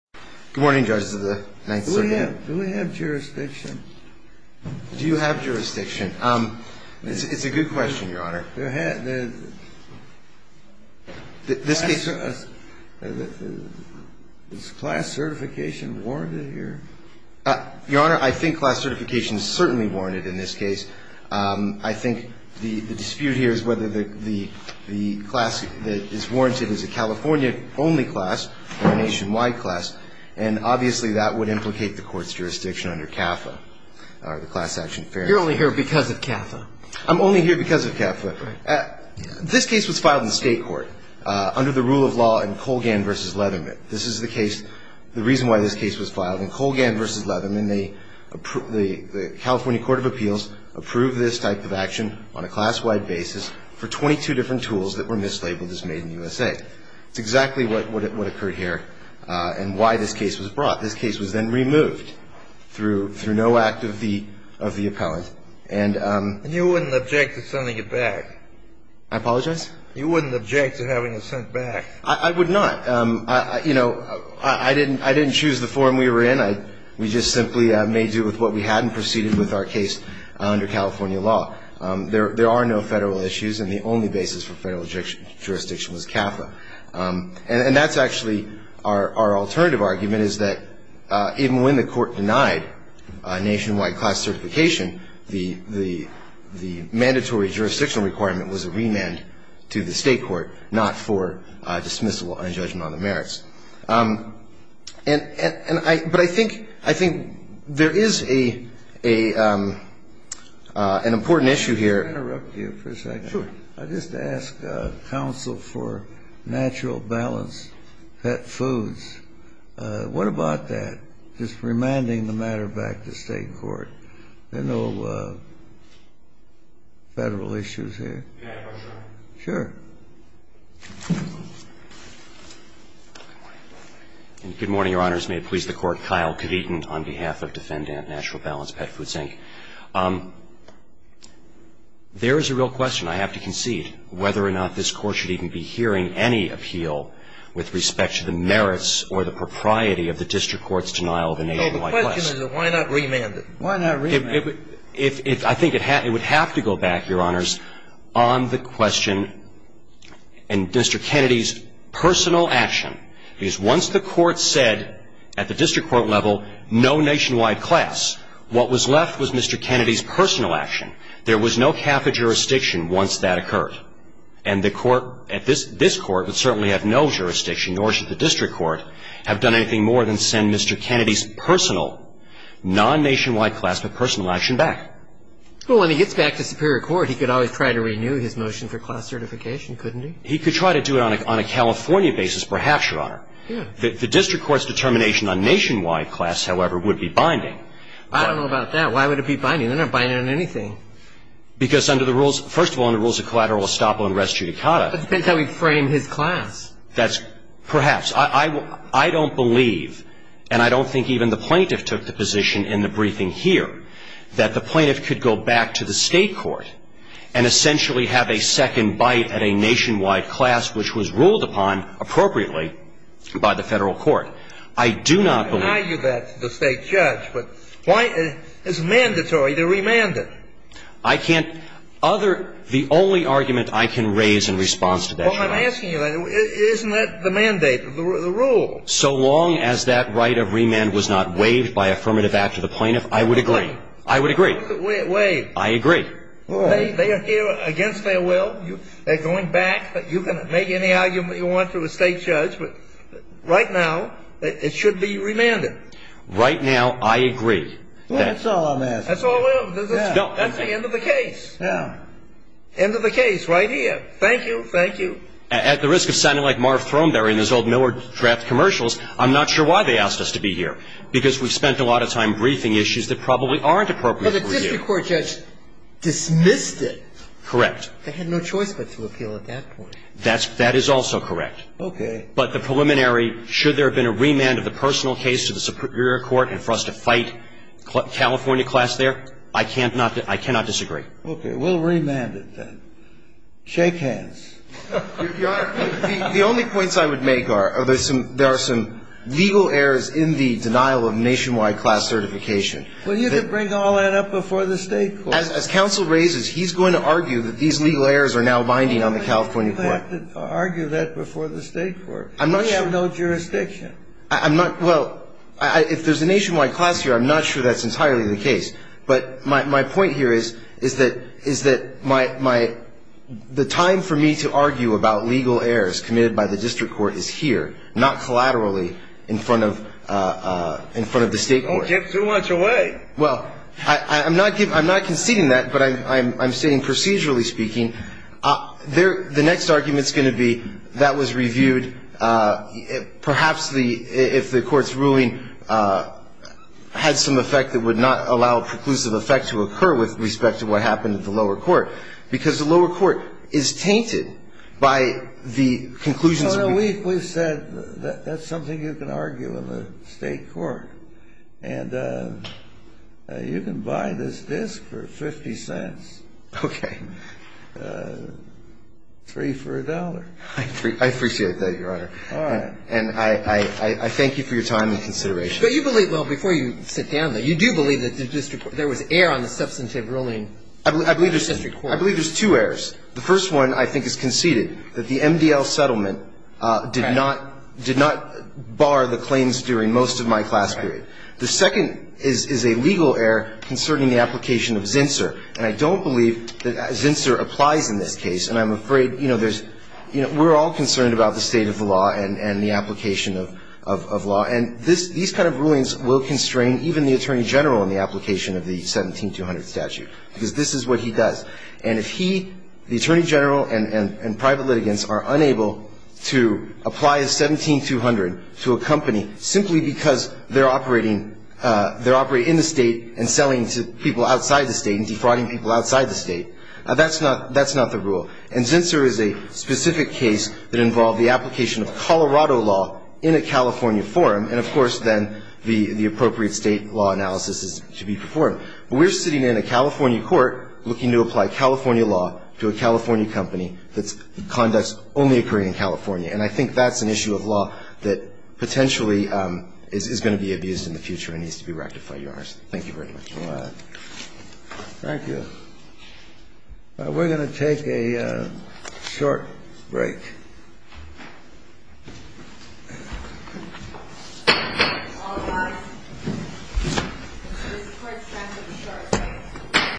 Good morning, judges of the Ninth Circuit. Do we have jurisdiction? Do you have jurisdiction? It's a good question, Your Honor. Is class certification warranted here? Your Honor, I think class certification is certainly warranted in this case. I think the dispute here is whether the class that is warranted is a California-only class or a nationwide class, and obviously that would implicate the Court's jurisdiction under CAFA or the Class Action Fairness Act. You're only here because of CAFA. I'm only here because of CAFA. Right. This case was filed in state court under the rule of law in Colgan v. Leatherman. This is the case, the reason why this case was filed in Colgan v. Leatherman. The California Court of Appeals approved this type of action on a class-wide basis for 22 different tools that were mislabeled as made in the USA. It's exactly what occurred here and why this case was brought. This case was then removed through no act of the appellant. And you wouldn't object to sending it back? I apologize? You wouldn't object to having it sent back? I would not. You know, I didn't choose the forum we were in. We just simply made do with what we had and proceeded with our case under California law. There are no Federal issues, and the only basis for Federal jurisdiction was CAFA. And that's actually our alternative argument is that even when the court denied nationwide class certification, the mandatory jurisdictional requirement was a remand to the state court, not for dismissal and judgment on the merits. But I think there is an important issue here. May I interrupt you for a second? Sure. I just asked counsel for natural balance pet foods. What about that, just remanding the matter back to state court? There are no Federal issues here? Yeah, for sure. Sure. Good morning, Your Honors. May it please the Court. Kyle Cavitin on behalf of Defendant Natural Balance Pet Foods, Inc. There is a real question, I have to concede, whether or not this Court should even be hearing any appeal with respect to the merits or the propriety of the district court's denial of a nationwide class. No, the question is why not remand it? Why not remand it? I think it would have to go back, Your Honors, on the question and Mr. Kennedy's personal action. Because once the Court said at the district court level no nationwide class, what was left was Mr. Kennedy's personal action. There was no cap of jurisdiction once that occurred. And the Court at this Court would certainly have no jurisdiction, nor should the district court, have done anything more than send Mr. Kennedy's personal, non-nationwide class, but personal action back. Well, when he gets back to superior court, he could always try to renew his motion for class certification, couldn't he? He could try to do it on a California basis, perhaps, Your Honor. The district court's determination on nationwide class, however, would be binding. I don't know about that. Why would it be binding? They're not binding on anything. Because under the rules, first of all, under the rules of collateral estoppel and res judicata. But it depends how we frame his class. Perhaps. I don't believe, and I don't think even the plaintiff took the position in the briefing here, that the plaintiff could go back to the state court and essentially have a second bite at a nationwide class, which was ruled upon appropriately by the federal court. I do not believe. I can argue that to the state judge. But why is it mandatory to remand it? I can't other the only argument I can raise in response to that, Your Honor. Well, I'm asking you, isn't that the mandate, the rule? So long as that right of remand was not waived by affirmative act to the plaintiff, I would agree. I would agree. Waive. I agree. They are here against their will. They're going back. You can make any argument you want to the state judge. But right now, it should be remanded. Right now, I agree. Well, that's all I'm asking. That's all I'm asking. That's the end of the case. Yeah. End of the case right here. Thank you. Thank you. At the risk of sounding like Marv Throneberry and his old Miller draft commercials, I'm not sure why they asked us to be here, because we spent a lot of time briefing issues that probably aren't appropriate for you. But the district court judge dismissed it. Correct. They had no choice but to appeal at that point. That is also correct. Okay. But the preliminary, should there have been a remand of the personal case to the superior court and for us to fight California class there, I cannot disagree. We'll remand it then. Shake hands. The only points I would make are there are some legal errors in the denial of nationwide class certification. Well, you could bring all that up before the state court. As counsel raises, he's going to argue that these legal errors are now binding on the California court. You have to argue that before the state court. I'm not sure. We have no jurisdiction. I'm not ñ well, if there's a nationwide class here, I'm not sure that's entirely the case. But my point here is that the time for me to argue about legal errors committed by the district court is here, not collaterally in front of the state court. Don't give too much away. Well, I'm not conceding that, but I'm stating procedurally speaking. The next argument's going to be that was reviewed, perhaps if the court's ruling had some effect that would not allow a preclusive effect to occur with respect to what happened at the lower court, because the lower court is tainted by the conclusions we've ñ No, no. We've said that's something you can argue in the state court. And you can buy this disc for 50 cents. Okay. Free for a dollar. I appreciate that, Your Honor. All right. And I thank you for your time and consideration. But you believe ñ well, before you sit down, though, you do believe that the district ñ there was error on the substantive ruling of the district court. I believe there's two errors. The first one, I think, is conceded, that the MDL settlement did not bar the claims during most of my class period. The second is a legal error concerning the application of Zinsser. And I don't believe that Zinsser applies in this case. And I'm afraid, you know, there's ñ we're all concerned about the state of the law and the application of law. And this ñ these kind of rulings will constrain even the attorney general in the application of the 17-200 statute, because this is what he does. And if he, the attorney general, and private litigants are unable to apply a 17-200 to a company simply because they're operating ñ they're operating in the state and selling to people outside the state and defrauding people outside the state, that's not ñ that's not the rule. And Zinsser is a specific case that involved the application of Colorado law in a California forum. And, of course, then the appropriate state law analysis is to be performed. But we're sitting in a California court looking to apply California law to a California company that's ñ conducts only occurring in California. And I think that's an issue of law that potentially is going to be abused in the future and needs to be rectified, Your Honors. Thank you very much. Thank you. We're going to take a short break.